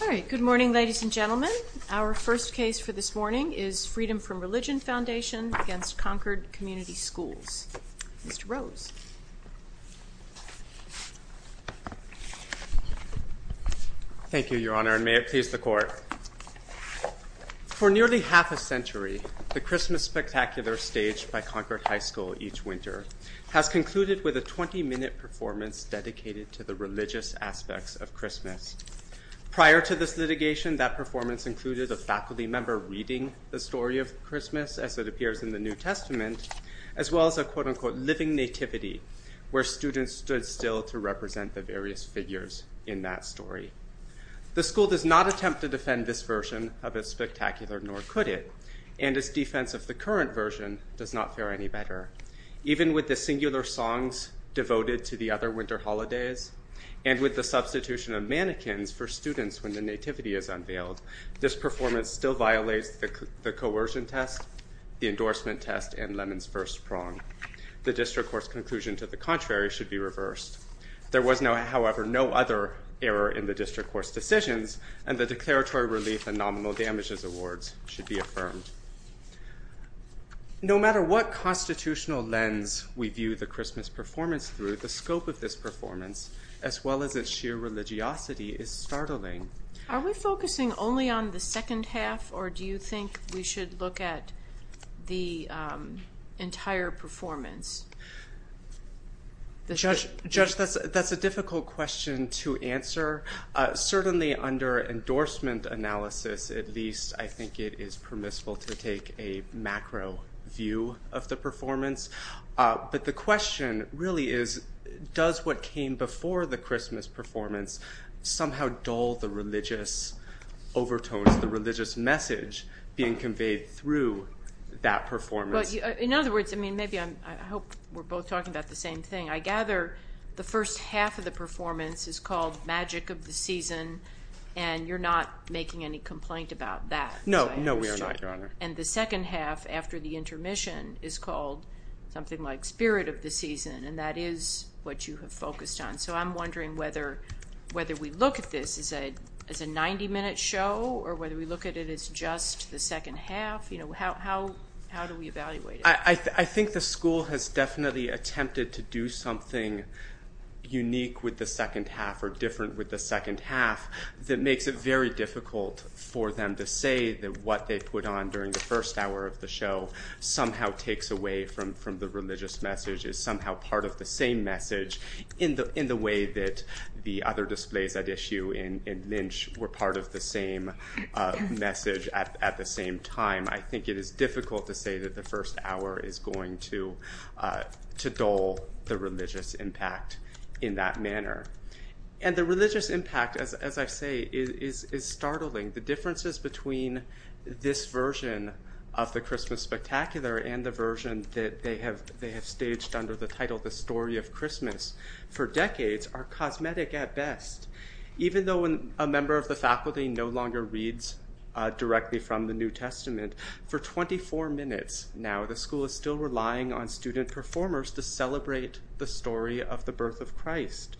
All right. Good morning, ladies and gentlemen. Our first case for this morning is Freedom From Religion Foundation v. Concord Community Schools. Mr. Rose. Thank you, Your Honor, and may it please the Court. For nearly half a century, the Christmas Spectacular, staged by Concord High School each winter, has concluded with a 20-minute performance dedicated to the religious aspects of Christmas. Prior to this litigation, that performance included a faculty member reading the story of Christmas as it appears in the New Testament, as well as a quote-unquote living nativity, where students stood still to represent the various figures in that story. The school does not attempt to defend this version of its Spectacular, nor could it, and its defense of the current version does not fare any better. Even with the singular songs devoted to the other winter holidays, and with the substitution of mannequins for students when the nativity is unveiled, this performance still violates the coercion test, the endorsement test, and Lemon's first prong. The district court's conclusion to the contrary should be reversed. There was, however, no other error in the district court's decisions, and the declaratory relief and nominal damages awards should be affirmed. No matter what constitutional lens we view the Christmas performance through, the scope of this performance, as well as its sheer religiosity, is startling. Are we focusing only on the second half, or do you think we should look at the entire performance? Judge, that's a difficult question to answer. Certainly under endorsement analysis, at least, I think it is permissible to take a macro view of the performance. But the question really is, does what came before the Christmas performance somehow dull the religious overtones, the religious message being conveyed through that performance? In other words, I hope we're both talking about the same thing. I gather the first half of the performance is called Magic of the Season, and you're not making any complaint about that. No, we are not, Your Honor. And the second half, after the intermission, is called something like Spirit of the Season, and that is what you have focused on. So I'm wondering whether we look at this as a 90-minute show or whether we look at it as just the second half. How do we evaluate it? I think the school has definitely attempted to do something unique with the second half or different with the second half that makes it very difficult for them to say that what they put on during the first hour of the show somehow takes away from the religious message, is somehow part of the same message in the way that the other displays at issue in Lynch were part of the same message at the same time. I think it is difficult to say that the first hour is going to dull the religious impact in that manner. And the religious impact, as I say, is startling. The differences between this version of the Christmas Spectacular and the version that they have staged under the title The Story of Christmas for decades are cosmetic at best. Even though a member of the faculty no longer reads directly from the New Testament, for 24 minutes now the school is still relying on student performers to celebrate the story of the birth of Christ.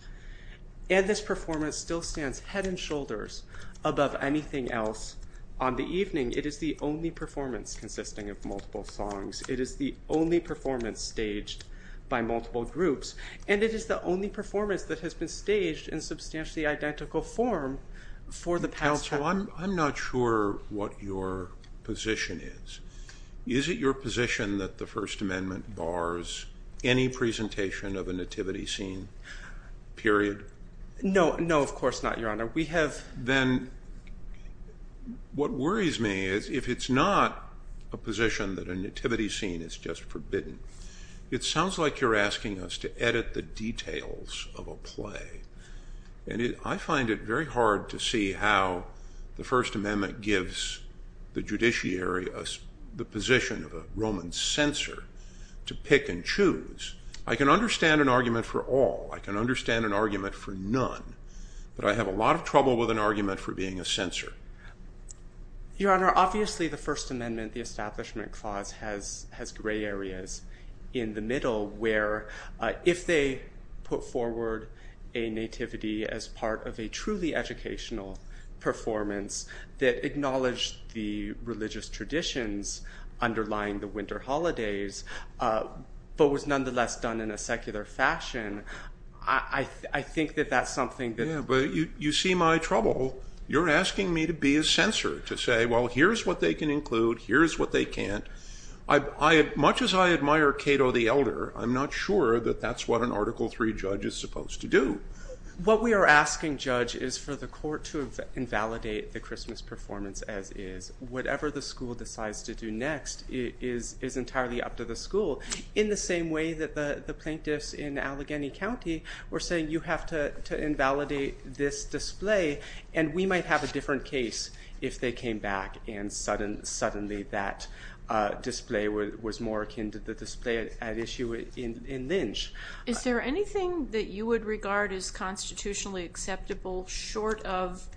And this performance still stands head and shoulders above anything else on the evening. It is the only performance consisting of multiple songs. It is the only performance staged by multiple groups. And it is the only performance that has been staged in substantially identical form for the past hour. Counsel, I'm not sure what your position is. Is it your position that the First Amendment bars any presentation of a nativity scene, period? No, of course not, Your Honor. Then what worries me is if it's not a position that a nativity scene is just forbidden, it sounds like you're asking us to edit the details of a play. And I find it very hard to see how the First Amendment gives the judiciary the position of a Roman censor to pick and choose. I can understand an argument for all. I can understand an argument for none. But I have a lot of trouble with an argument for being a censor. Your Honor, obviously the First Amendment, the Establishment Clause, has gray areas in the middle where if they put forward a nativity as part of a truly educational performance that acknowledged the religious traditions underlying the winter holidays, but was nonetheless done in a secular fashion, I think that that's something that- Yeah, but you see my trouble. You're asking me to be a censor to say, well, here's what they can include, here's what they can't. Much as I admire Cato the Elder, I'm not sure that that's what an Article III judge is supposed to do. What we are asking, Judge, is for the court to invalidate the Christmas performance as is. Whatever the school decides to do next is entirely up to the school. In the same way that the plaintiffs in Allegheny County were saying you have to invalidate this display, and we might have a different case if they came back and suddenly that display was more akin to the display at issue in Lynch. Is there anything that you would regard as constitutionally acceptable short of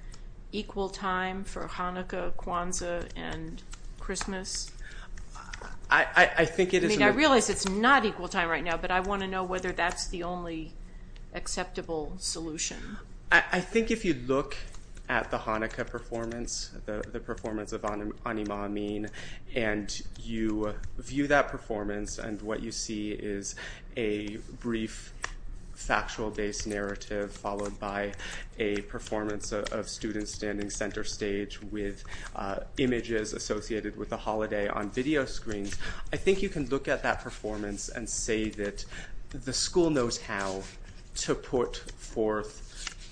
equal time for Hanukkah, Kwanzaa, and Christmas? I think it is- I mean, I realize it's not equal time right now, but I want to know whether that's the only acceptable solution. I think if you look at the Hanukkah performance, the performance of Anima Amin, and you view that performance and what you see is a brief factual-based narrative followed by a performance of students standing center stage with images associated with the holiday on video screens. I think you can look at that performance and say that the school knows how to put forth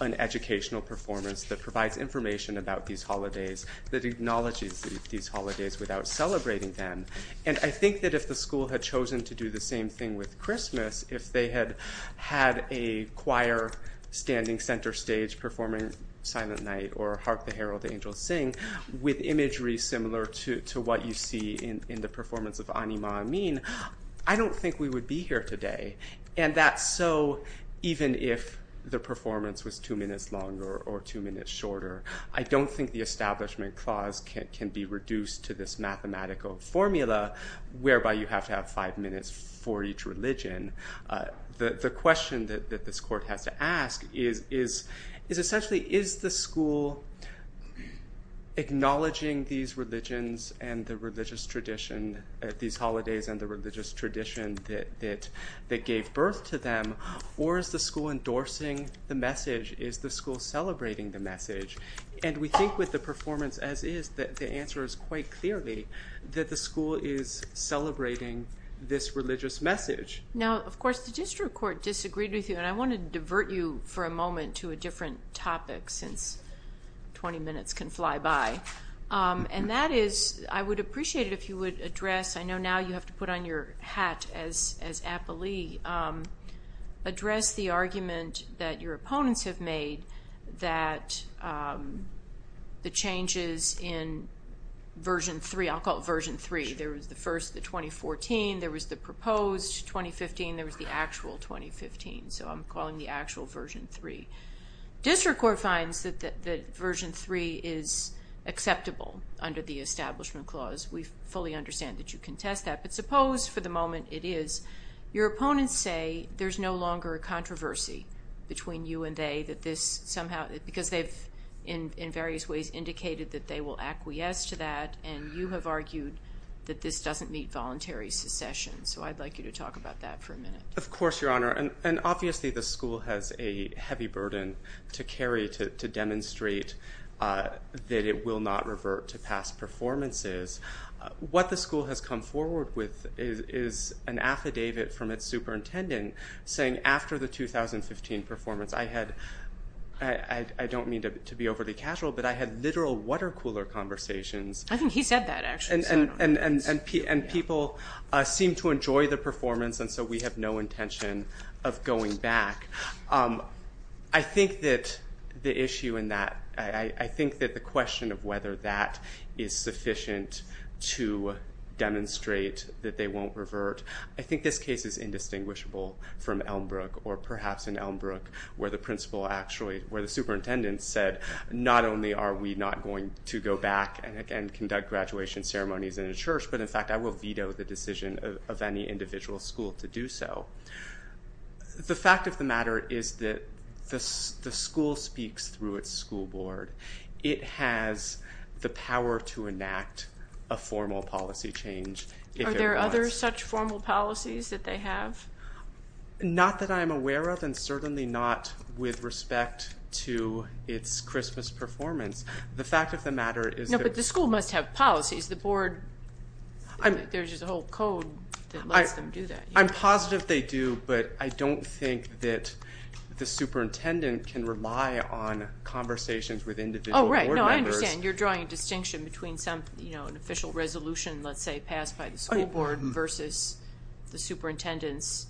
an educational performance that provides information about these holidays, that acknowledges these holidays without celebrating them. And I think that if the school had chosen to do the same thing with Christmas, if they had had a choir standing center stage performing Silent Night or Hark the Herald Angels Sing with imagery similar to what you see in the performance of Anima Amin, I don't think we would be here today. And that's so even if the performance was two minutes longer or two minutes shorter. I don't think the establishment clause can be reduced to this mathematical formula whereby you have to have five minutes for each religion. The question that this court has to ask is essentially, is the school acknowledging these religions and the religious tradition, these holidays and the religious tradition that gave birth to them, or is the school endorsing the message? Is the school celebrating the message? And we think with the performance as is that the answer is quite clearly that the school is celebrating this religious message. Now, of course, the district court disagreed with you, and I want to divert you for a moment to a different topic since 20 minutes can fly by. And that is, I would appreciate it if you would address, I know now you have to put on your hat as appellee, address the argument that your opponents have made that the changes in Version 3, I'll call it Version 3. There was the first, the 2014, there was the proposed 2015, there was the actual 2015. So I'm calling the actual Version 3. District court finds that Version 3 is acceptable under the establishment clause. We fully understand that you contest that, but suppose for the moment it is. Your opponents say there's no longer a controversy between you and they that this somehow, because they've in various ways indicated that they will acquiesce to that, and you have argued that this doesn't meet voluntary secession. So I'd like you to talk about that for a minute. Of course, Your Honor. And obviously the school has a heavy burden to carry to demonstrate that it will not revert to past performances. What the school has come forward with is an affidavit from its superintendent saying after the 2015 performance, I had, I don't mean to be overly casual, but I had literal water cooler conversations. I think he said that actually. And people seem to enjoy the performance, and so we have no intention of going back. I think that the issue in that, I think that the question of whether that is sufficient to demonstrate that they won't revert, I think this case is indistinguishable from Elmbrook or perhaps in Elmbrook where the principal actually, where the superintendent said not only are we not going to go back and again conduct graduation ceremonies in a church, but in fact I will veto the decision of any individual school to do so. The fact of the matter is that the school speaks through its school board. It has the power to enact a formal policy change. Are there other such formal policies that they have? Not that I'm aware of and certainly not with respect to its Christmas performance. The fact of the matter is that. No, but the school must have policies. The board, there's a whole code that lets them do that. I'm positive they do, but I don't think that the superintendent can rely on conversations with individual board members. Oh, right. No, I understand. You're drawing a distinction between an official resolution, let's say, passed by the school board versus the superintendent's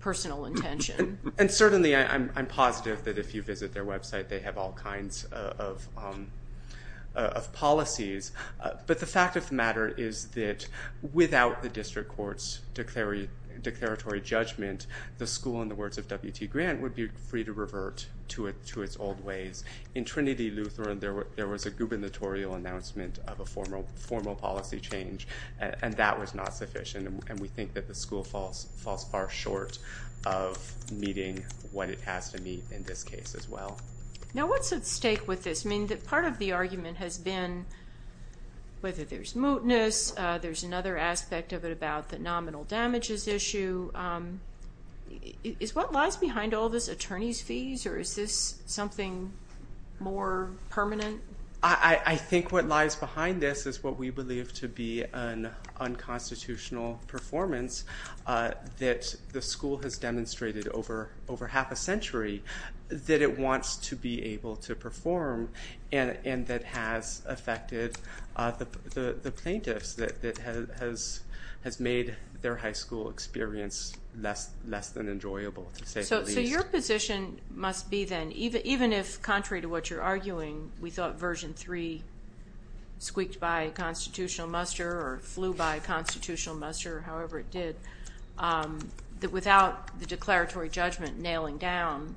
personal intention. And certainly I'm positive that if you visit their website, they have all kinds of policies. But the fact of the matter is that without the district court's declaratory judgment, the school, in the words of W.T. Grant, would be free to revert to its old ways. In Trinity Lutheran, there was a gubernatorial announcement of a formal policy change, and that was not sufficient. And we think that the school falls far short of meeting what it has to meet in this case as well. Now, what's at stake with this? I mean, part of the argument has been whether there's mootness. There's another aspect of it about the nominal damages issue. Is what lies behind all this attorney's fees, or is this something more permanent? I think what lies behind this is what we believe to be an unconstitutional performance that the school has demonstrated over half a century, that it wants to be able to perform and that has affected the plaintiffs, that has made their high school experience less than enjoyable, to say the least. So your position must be then, even if contrary to what you're arguing, we thought Version 3 squeaked by constitutional muster or flew by constitutional muster, however it did, that without the declaratory judgment nailing down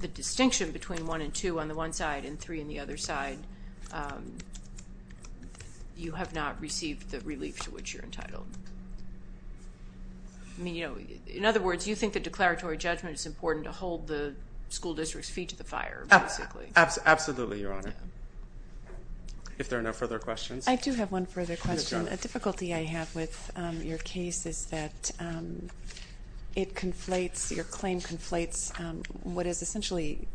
the distinction between one and two on the one side and three on the other side, you have not received the relief to which you're entitled. In other words, you think the declaratory judgment is important to hold the school district's feet to the fire, basically. Absolutely, Your Honor. If there are no further questions. I do have one further question. A difficulty I have with your case is that it conflates, your claim conflates what is essentially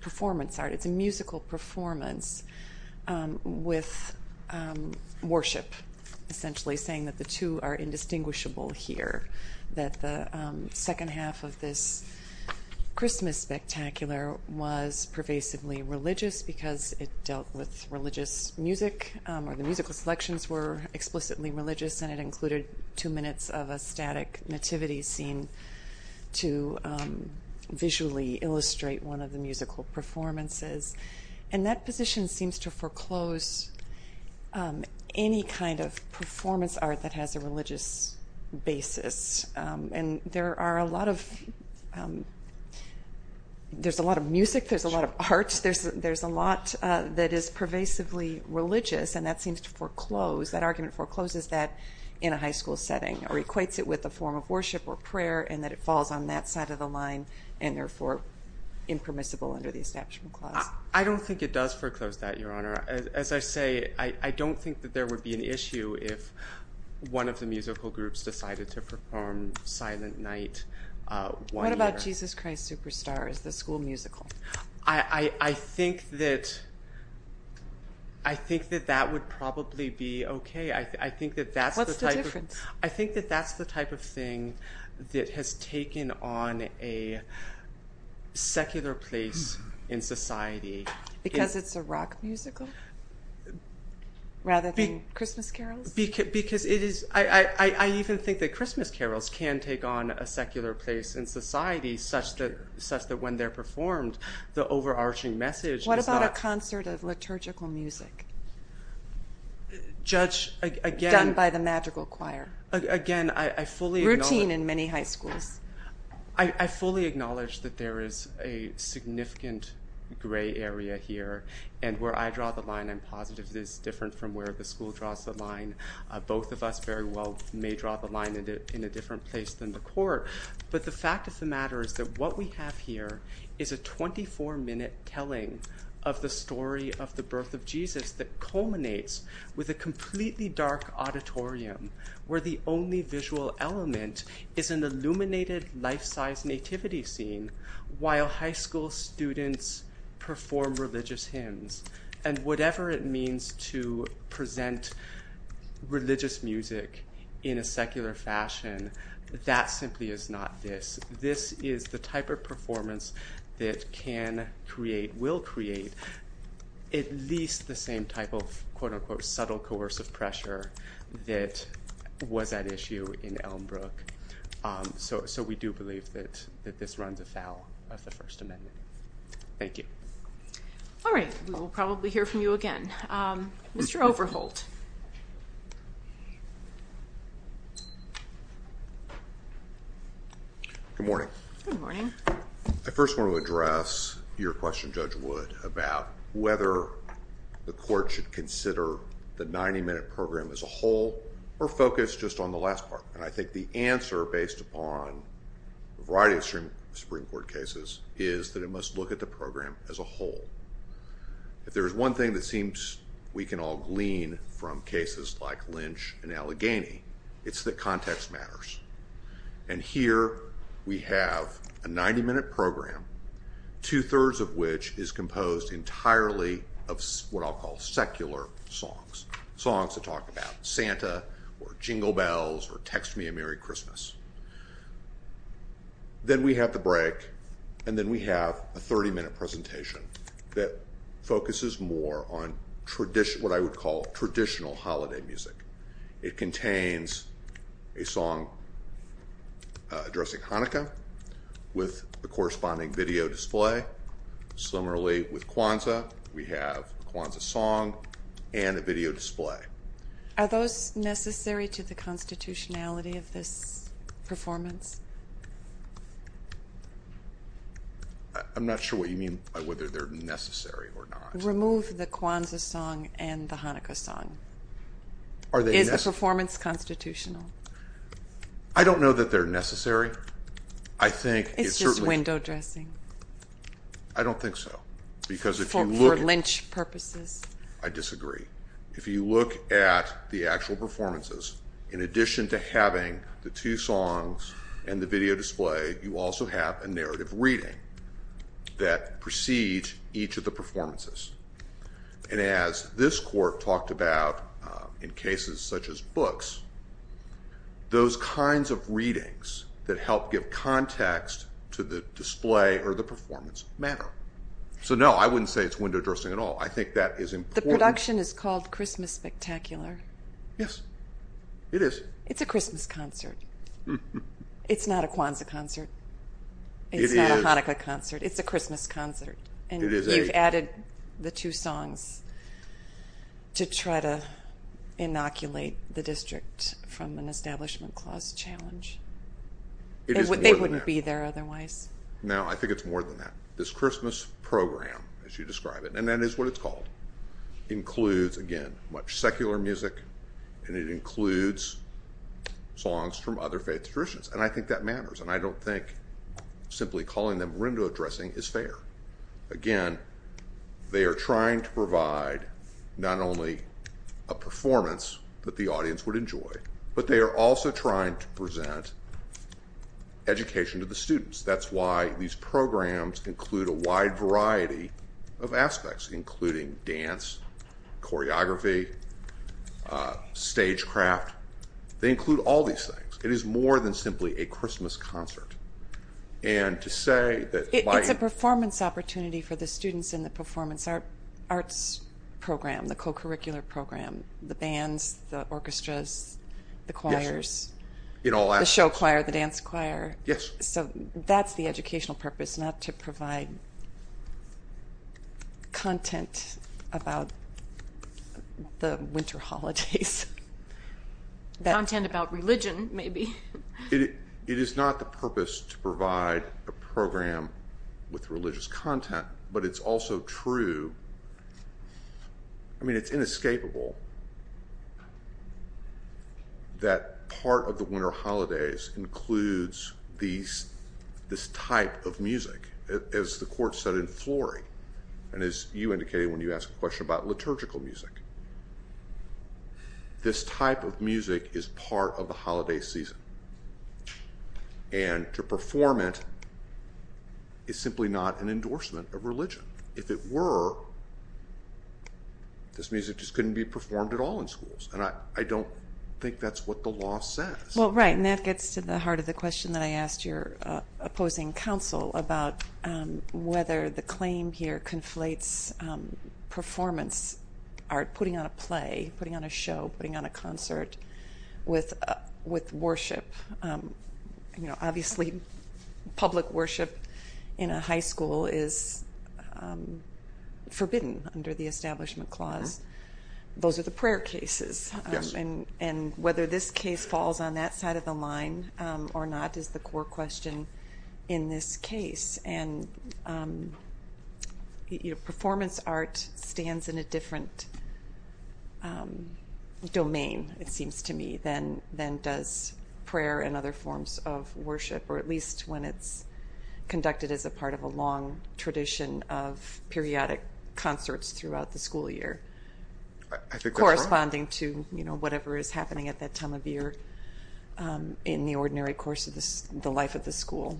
performance art. It's a musical performance with worship, essentially saying that the two are indistinguishable here, that the second half of this Christmas spectacular was pervasively religious because it dealt with religious music or the musical selections were explicitly religious and it included two minutes of a static nativity scene to visually illustrate one of the musical performances. And that position seems to foreclose any kind of performance art that has a religious basis. And there are a lot of, there's a lot of music, there's a lot of art, there's a lot that is pervasively religious and that seems to foreclose, that argument forecloses that in a high school setting or equates it with a form of worship or prayer and that it falls on that side of the line and therefore impermissible under the Establishment Clause. I don't think it does foreclose that, Your Honor. As I say, I don't think that there would be an issue if one of the musical groups decided to perform Silent Night. What about Jesus Christ Superstar as the school musical? I think that that would probably be okay. I think that that's the type of thing that has taken on a secular place in society. Because it's a rock musical rather than Christmas carols? Because it is, I even think that Christmas carols can take on a secular place in society such that when they're performed, the overarching message is that- What about a concert of liturgical music? Judge, again- Done by the magical choir. Again, I fully- Routine in many high schools. I fully acknowledge that there is a significant gray area here. And where I draw the line, I'm positive this is different from where the school draws the line. Both of us very well may draw the line in a different place than the court. But the fact of the matter is that what we have here is a 24-minute telling of the story of the birth of Jesus that culminates with a completely dark auditorium where the only visual element is an illuminated life-size nativity scene while high school students perform religious hymns. And whatever it means to present religious music in a secular fashion, that simply is not this. This is the type of performance that can create, will create, at least the same type of quote-unquote subtle coercive pressure that was at issue in Elmbrook. So we do believe that this runs afoul of the First Amendment. Thank you. All right, we will probably hear from you again. Mr. Overholt. Good morning. Good morning. I first want to address your question, Judge Wood, about whether the court should consider the 90-minute program as a whole or focus just on the last part. And I think the answer, based upon a variety of Supreme Court cases, is that it must look at the program as a whole. If there is one thing that seems we can all glean from cases like Lynch and Allegheny, it's that context matters. And here we have a 90-minute program, two-thirds of which is composed entirely of what I'll call secular songs, songs that talk about Santa or jingle bells or text me a Merry Christmas. Then we have the break, and then we have a 30-minute presentation that focuses more on what I would call traditional holiday music. It contains a song addressing Hanukkah with the corresponding video display. Similarly with Kwanzaa, we have a Kwanzaa song and a video display. Are those necessary to the constitutionality of this performance? I'm not sure what you mean by whether they're necessary or not. Remove the Kwanzaa song and the Hanukkah song. Is the performance constitutional? I don't know that they're necessary. It's just window dressing. I don't think so. For Lynch purposes. I disagree. If you look at the actual performances, in addition to having the two songs and the video display, you also have a narrative reading that precedes each of the performances. And as this court talked about in cases such as books, those kinds of readings that help give context to the display or the performance matter. So no, I wouldn't say it's window dressing at all. I think that is important. The production is called Christmas Spectacular. Yes, it is. It's a Christmas concert. It's not a Kwanzaa concert. It's not a Hanukkah concert. It's a Christmas concert. And you've added the two songs to try to inoculate the district from an establishment clause challenge. It is more than that. They wouldn't be there otherwise. No, I think it's more than that. This Christmas program, as you describe it, and that is what it's called, includes, again, much secular music, and it includes songs from other faith traditions. And I think that matters. And I don't think simply calling them window dressing is fair. Again, they are trying to provide not only a performance that the audience would enjoy, but they are also trying to present education to the students. That's why these programs include a wide variety of aspects, including dance, choreography, stagecraft. They include all these things. It is more than simply a Christmas concert. It's a performance opportunity for the students in the performance arts program, the co-curricular program, the bands, the orchestras, the choirs, the show choir, the dance choir. Yes. So that's the educational purpose, not to provide content about the winter holidays. Content about religion, maybe. It is not the purpose to provide a program with religious content, but it's also true. I mean, it's inescapable that part of the winter holidays includes this type of music. As the court said in Flory, and as you indicated when you asked the question about liturgical music, this type of music is part of the holiday season. And to perform it is simply not an endorsement of religion. If it were, this music just couldn't be performed at all in schools, and I don't think that's what the law says. Well, right, and that gets to the heart of the question that I asked your opposing counsel about whether the claim here conflates performance art, putting on a play, putting on a show, putting on a concert with worship. Obviously, public worship in a high school is forbidden under the Establishment Clause. Those are the prayer cases. And whether this case falls on that side of the line or not is the core question in this case. And performance art stands in a different domain, it seems to me, than does prayer and other forms of worship, or at least when it's conducted as a part of a long tradition of periodic concerts throughout the school year, corresponding to whatever is happening at that time of year in the ordinary course of the life of the school.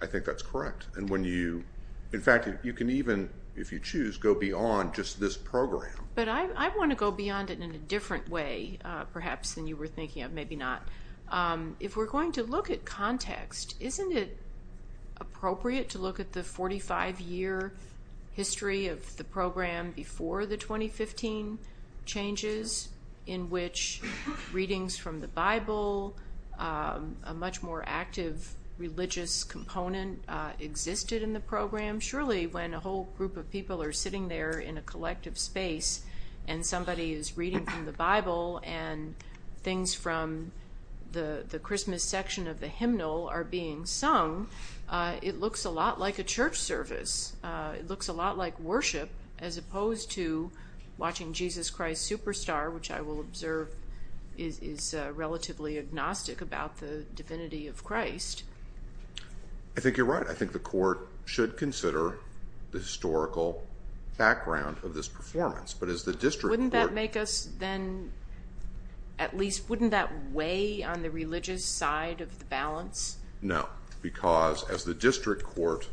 I think that's correct. In fact, you can even, if you choose, go beyond just this program. But I want to go beyond it in a different way, perhaps, than you were thinking of, maybe not. If we're going to look at context, isn't it appropriate to look at the 45-year history of the program before the 2015 changes in which readings from the Bible, a much more active religious component existed in the program? Surely, when a whole group of people are sitting there in a collective space and somebody is reading from the Bible and things from the Christmas section of the hymnal are being sung, it looks a lot like a church service. It looks a lot like worship as opposed to watching Jesus Christ Superstar, which I will observe is relatively agnostic about the divinity of Christ. I think you're right. I think the court should consider the historical background of this performance. Wouldn't that make us then, at least, wouldn't that weigh on the religious side of the balance? No, because as the district court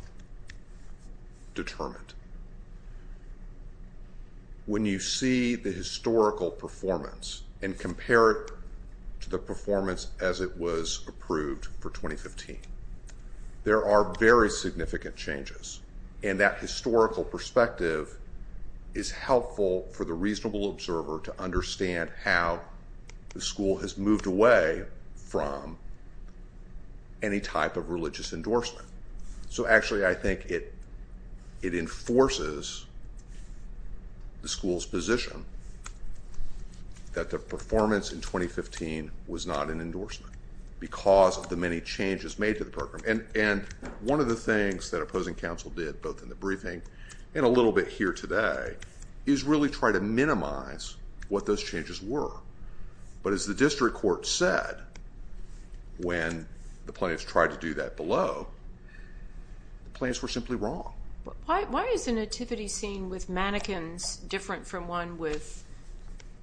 determined, when you see the historical performance and compare it to the performance as it was approved for 2015, there are very significant changes, and that historical perspective is helpful for the reasonable observer to understand how the school has moved away from any type of religious endorsement. Actually, I think it enforces the school's position that the performance in 2015 was not an endorsement because of the many changes made to the program. And one of the things that opposing counsel did, both in the briefing and a little bit here today, is really try to minimize what those changes were. But as the district court said when the plaintiffs tried to do that below, the plaintiffs were simply wrong. Why is the nativity scene with mannequins different from one with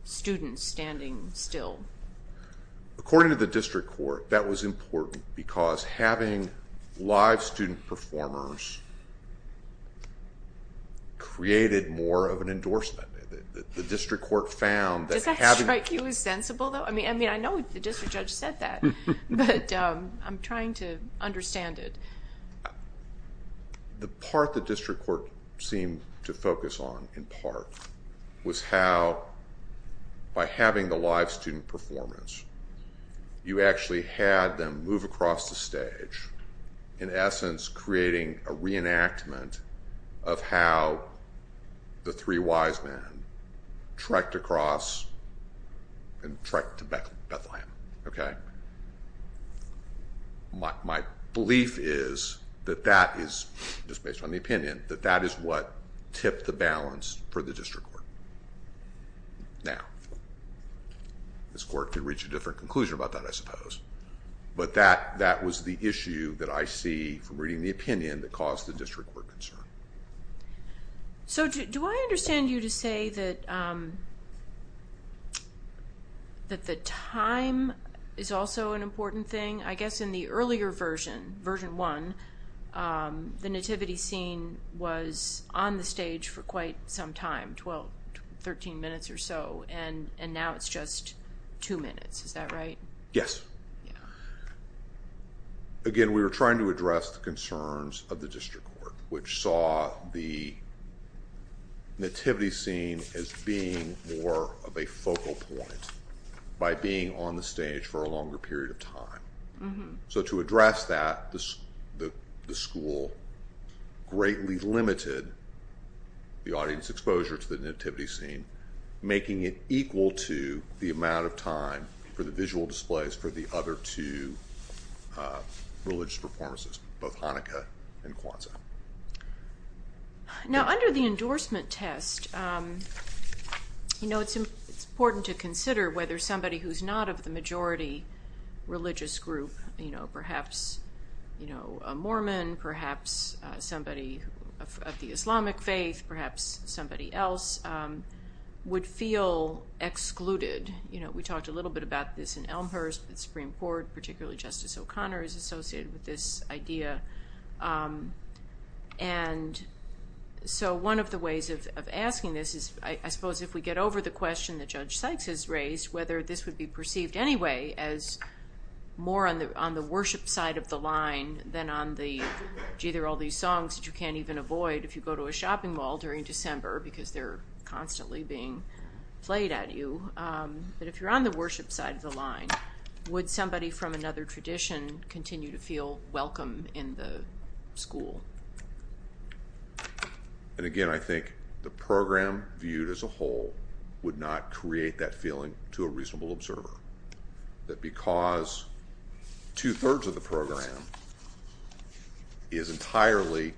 students standing still? According to the district court, that was important because having live student performers created more of an endorsement. The district court found that having... Does that strike you as sensible, though? I mean, I know the district judge said that, but I'm trying to understand it. The part the district court seemed to focus on, in part, was how by having the live student performers, you actually had them move across the stage, in essence creating a reenactment of how the three wise men trekked across and trekked to Bethlehem. My belief is that that is, just based on the opinion, that that is what tipped the balance for the district court. Now, this court could reach a different conclusion about that, I suppose, but that was the issue that I see from reading the opinion that caused the district court concern. So do I understand you to say that the time is also an important thing? I guess in the earlier version, version one, the nativity scene was on the stage for quite some time, 12, 13 minutes or so, and now it's just two minutes. Is that right? Yes. Again, we were trying to address the concerns of the district court, which saw the nativity scene as being more of a focal point by being on the stage for a longer period of time. So to address that, the school greatly limited the audience exposure to the nativity scene, making it equal to the amount of time for the visual displays for the other two religious performances, both Hanukkah and Kwanzaa. Now, under the endorsement test, it's important to consider whether somebody who's not of the majority religious group, perhaps a Mormon, perhaps somebody of the Islamic faith, perhaps somebody else, would feel excluded. We talked a little bit about this in Elmhurst. The Supreme Court, particularly Justice O'Connor, is associated with this idea. And so one of the ways of asking this is, I suppose, if we get over the question that Judge Sykes has raised, whether this would be perceived anyway as more on the worship side of the line than on the, gee, there are all these songs that you can't even avoid if you go to a shopping mall during December, because they're constantly being played at you. But if you're on the worship side of the line, would somebody from another tradition continue to feel welcome in the school? And again, I think the program viewed as a whole would not create that feeling to a reasonable observer, that because two-thirds of the program is entirely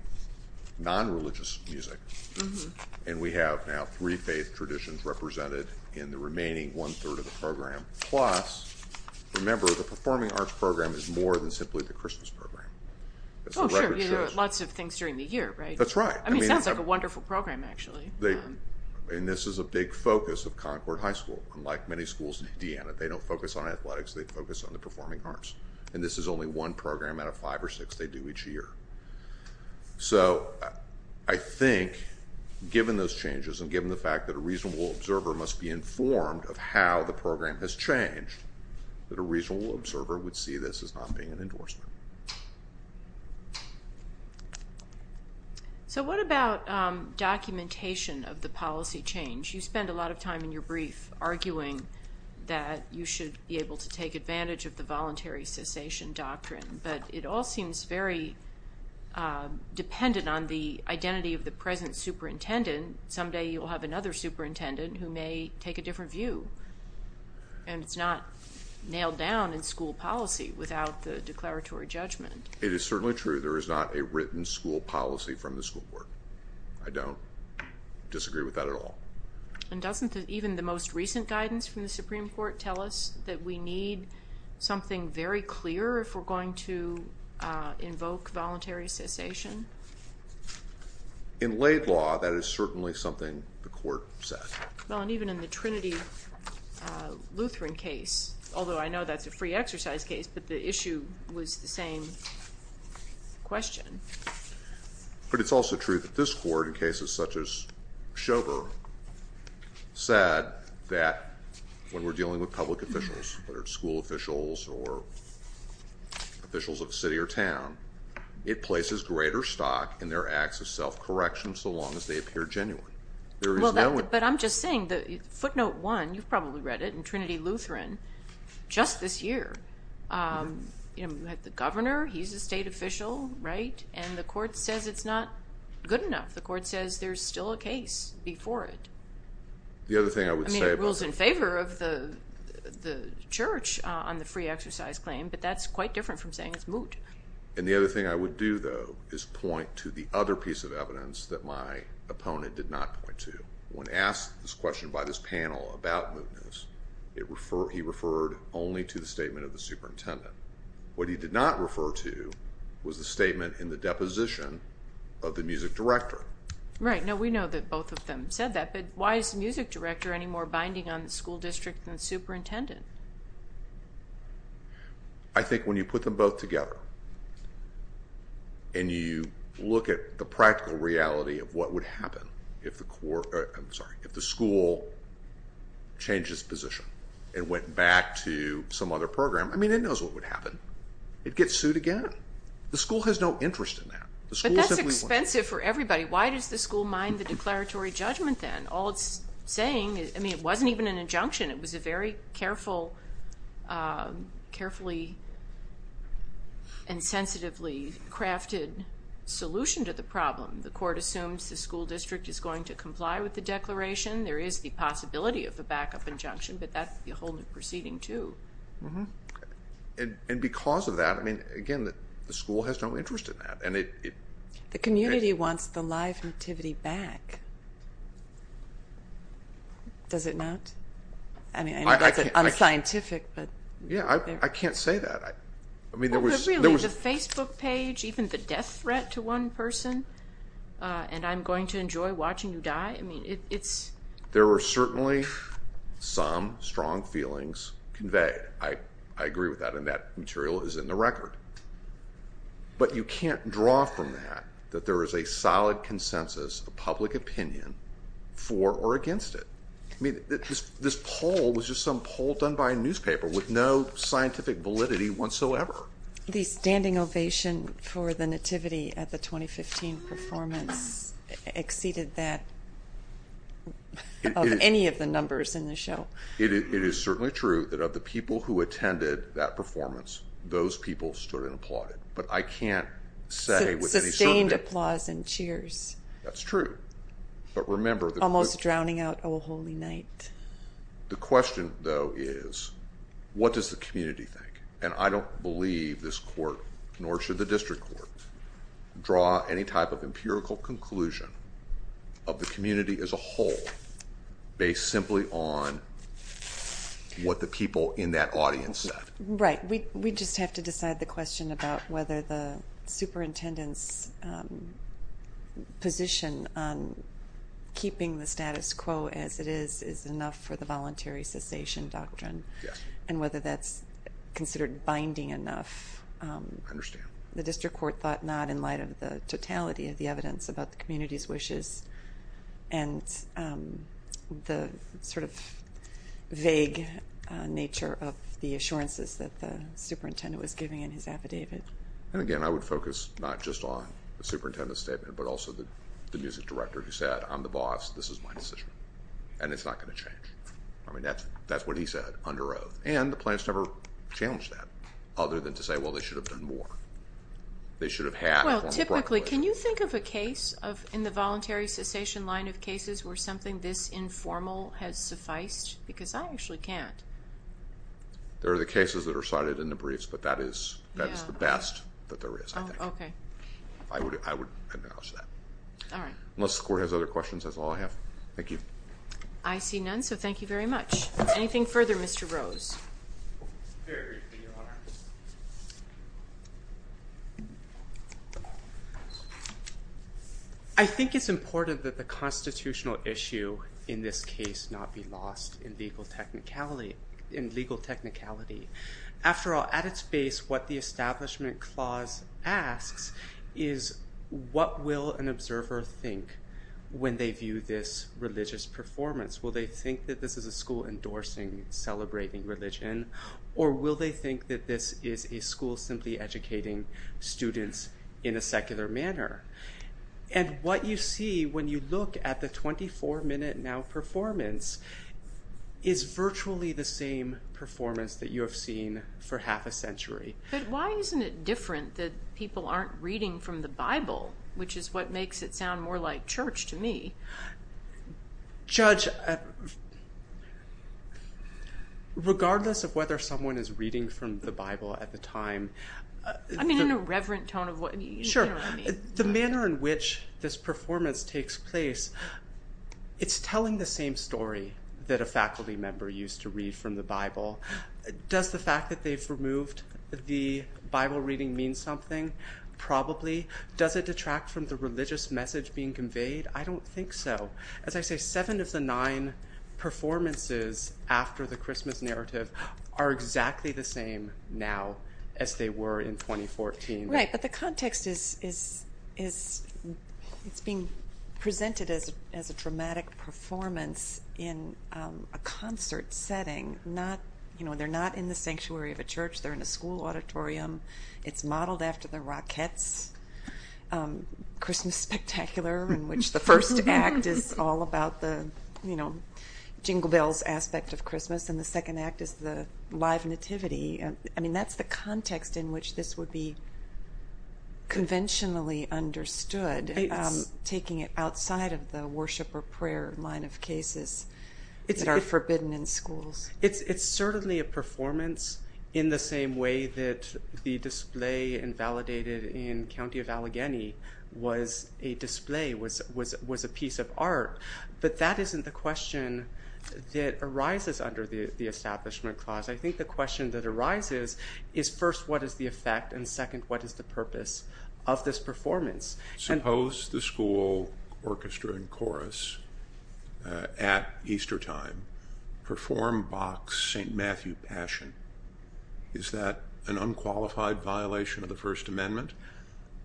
nonreligious music and we have now three faith traditions represented in the remaining one-third of the program. Plus, remember, the performing arts program is more than simply the Christmas program. Oh, sure, there are lots of things during the year, right? That's right. I mean, it sounds like a wonderful program, actually. And this is a big focus of Concord High School. Unlike many schools in Indiana, they don't focus on athletics. They focus on the performing arts. And this is only one program out of five or six they do each year. So I think, given those changes and given the fact that a reasonable observer must be informed of how the program has changed, that a reasonable observer would see this as not being an endorsement. So what about documentation of the policy change? You spend a lot of time in your brief arguing that you should be able to take advantage of the voluntary cessation doctrine, but it all seems very dependent on the identity of the present superintendent. And if you're a superintendent, someday you'll have another superintendent who may take a different view. And it's not nailed down in school policy without the declaratory judgment. It is certainly true there is not a written school policy from the school board. I don't disagree with that at all. And doesn't even the most recent guidance from the Supreme Court tell us that we need something very clear if we're going to invoke voluntary cessation? In laid law, that is certainly something the court said. Well, and even in the Trinity Lutheran case, although I know that's a free exercise case, but the issue was the same question. But it's also true that this court, in cases such as Schober, said that when we're dealing with public officials, whether it's school officials or officials of a city or town, it places greater stock in their acts of self-correction so long as they appear genuine. Well, but I'm just saying, footnote one, you've probably read it, in Trinity Lutheran just this year, you have the governor, he's a state official, right? And the court says it's not good enough. The court says there's still a case before it. The other thing I would say about it. I mean, it rules in favor of the church on the free exercise claim, but that's quite different from saying it's moot. And the other thing I would do, though, is point to the other piece of evidence that my opponent did not point to. When asked this question by this panel about mootness, he referred only to the statement of the superintendent. What he did not refer to was the statement in the deposition of the music director. Right. No, we know that both of them said that, but why is the music director any more binding on the school district than the superintendent? I think when you put them both together and you look at the practical reality of what would happen if the school changed its position and went back to some other program, I mean, it knows what would happen. It'd get sued again. The school has no interest in that. But that's expensive for everybody. Why does the school mind the declaratory judgment then? All it's saying is, I mean, it wasn't even an injunction. It was a very carefully and sensitively crafted solution to the problem. The court assumes the school district is going to comply with the declaration. There is the possibility of a backup injunction, but that's a whole new proceeding, too. And because of that, I mean, again, the school has no interest in that. The community wants the live nativity back. Does it not? I mean, I know that's unscientific, but. Yeah, I can't say that. Really, the Facebook page, even the death threat to one person, and I'm going to enjoy watching you die, I mean, it's... There were certainly some strong feelings conveyed. I agree with that, and that material is in the record. But you can't draw from that that there is a solid consensus of public opinion for or against it. I mean, this poll was just some poll done by a newspaper with no scientific validity whatsoever. The standing ovation for the nativity at the 2015 performance exceeded that of any of the numbers in the show. It is certainly true that of the people who attended that performance, those people stood and applauded. But I can't say with any certainty. Sustained applause and cheers. That's true. But remember... Almost drowning out O Holy Night. The question, though, is what does the community think? And I don't believe this court, nor should the district court, draw any type of empirical conclusion of the community as a whole based simply on what the people in that audience said. Right. We just have to decide the question about whether the superintendent's position on keeping the status quo as it is is enough for the voluntary cessation doctrine and whether that's considered binding enough. I understand. The district court thought not in light of the totality of the evidence about the community's wishes and the sort of vague nature of the assurances that the superintendent was giving in his affidavit. And again, I would focus not just on the superintendent's statement, but also the music director who said, I'm the boss, this is my decision, and it's not going to change. I mean, that's what he said under oath. And the plaintiffs never challenged that other than to say, well, they should have done more. They should have had a formal proclamation. Well, typically, can you think of a case in the voluntary cessation line of cases where something this informal has sufficed? Because I actually can't. There are the cases that are cited in the briefs, but that is the best that there is, I think. Oh, okay. I would acknowledge that. All right. Unless the court has other questions, that's all I have. Thank you. I see none, so thank you very much. Anything further, Mr. Rose? Very briefly, Your Honor. I think it's important that the constitutional issue in this case not be lost in legal technicality. After all, at its base, what the Establishment Clause asks is, what will an observer think when they view this religious performance? Will they think that this is a school endorsing celebrating religion, or will they think that this is a school simply educating students in a secular manner? And what you see when you look at the 24-minute now performance is virtually the same performance that you have seen for half a century. But why isn't it different that people aren't reading from the Bible, which is what makes it sound more like church to me? Judge, regardless of whether someone is reading from the Bible at the time. I mean, in a reverent tone of what you generally mean. Sure. The manner in which this performance takes place, it's telling the same story that a faculty member used to read from the Bible. Does the fact that they've removed the Bible reading mean something? Probably. Does it detract from the religious message being conveyed? I don't think so. As I say, seven of the nine performances after the Christmas narrative are exactly the same now as they were in 2014. Right. But the context is it's being presented as a dramatic performance in a concert setting. They're not in the sanctuary of a church. They're in a school auditorium. It's modeled after the Rockettes' Christmas Spectacular, in which the first act is all about the jingle bells aspect of Christmas, and the second act is the live nativity. I mean, that's the context in which this would be conventionally understood, taking it outside of the worship or prayer line of cases that are forbidden in schools. It's certainly a performance in the same way that the display invalidated in County of Allegheny was a display, was a piece of art, but that isn't the question that arises under the Establishment Clause. I think the question that arises is, first, what is the effect, and second, what is the purpose of this performance? Suppose the school orchestra and chorus at Easter time perform Bach's St. Matthew Passion. Is that an unqualified violation of the First Amendment,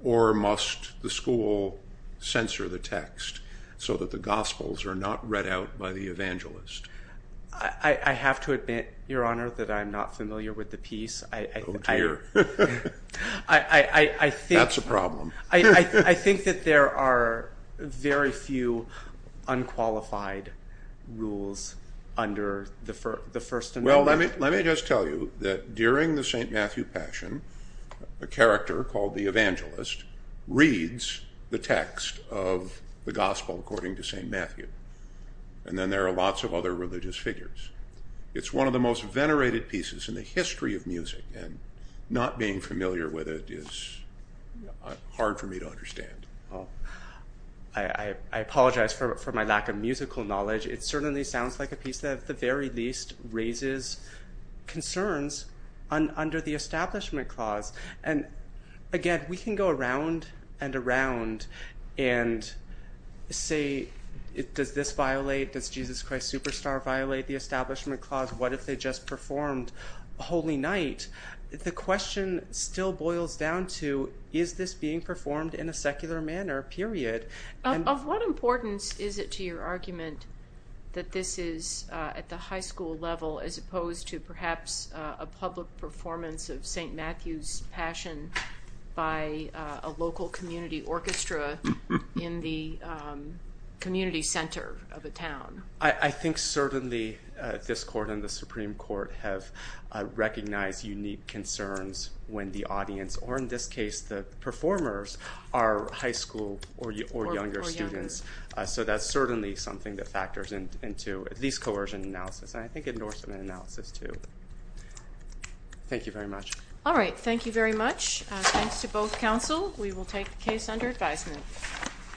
or must the school censor the text so that the gospels are not read out by the evangelist? I have to admit, Your Honor, that I'm not familiar with the piece. Oh, dear. That's a problem. I think that there are very few unqualified rules under the First Amendment. Well, let me just tell you that during the St. Matthew Passion, a character called the evangelist reads the text of the gospel according to St. Matthew, and then there are lots of other religious figures. It's one of the most venerated pieces in the history of music, and not being familiar with it is hard for me to understand. I apologize for my lack of musical knowledge. It certainly sounds like a piece that, at the very least, raises concerns under the Establishment Clause. And, again, we can go around and around and say, does this violate, does Jesus Christ Superstar violate the Establishment Clause? What if they just performed Holy Night? The question still boils down to, is this being performed in a secular manner, period? Of what importance is it to your argument that this is at the high school level as opposed to perhaps a public performance of St. Matthew's Passion by a local community orchestra in the community center of a town? I think certainly this Court and the Supreme Court have recognized unique concerns when the audience, or in this case the performers, are high school or younger students. So that's certainly something that factors into at least coercion analysis, and I think endorsement analysis, too. Thank you very much. All right, thank you very much. Thanks to both counsel. We will take the case under advisement.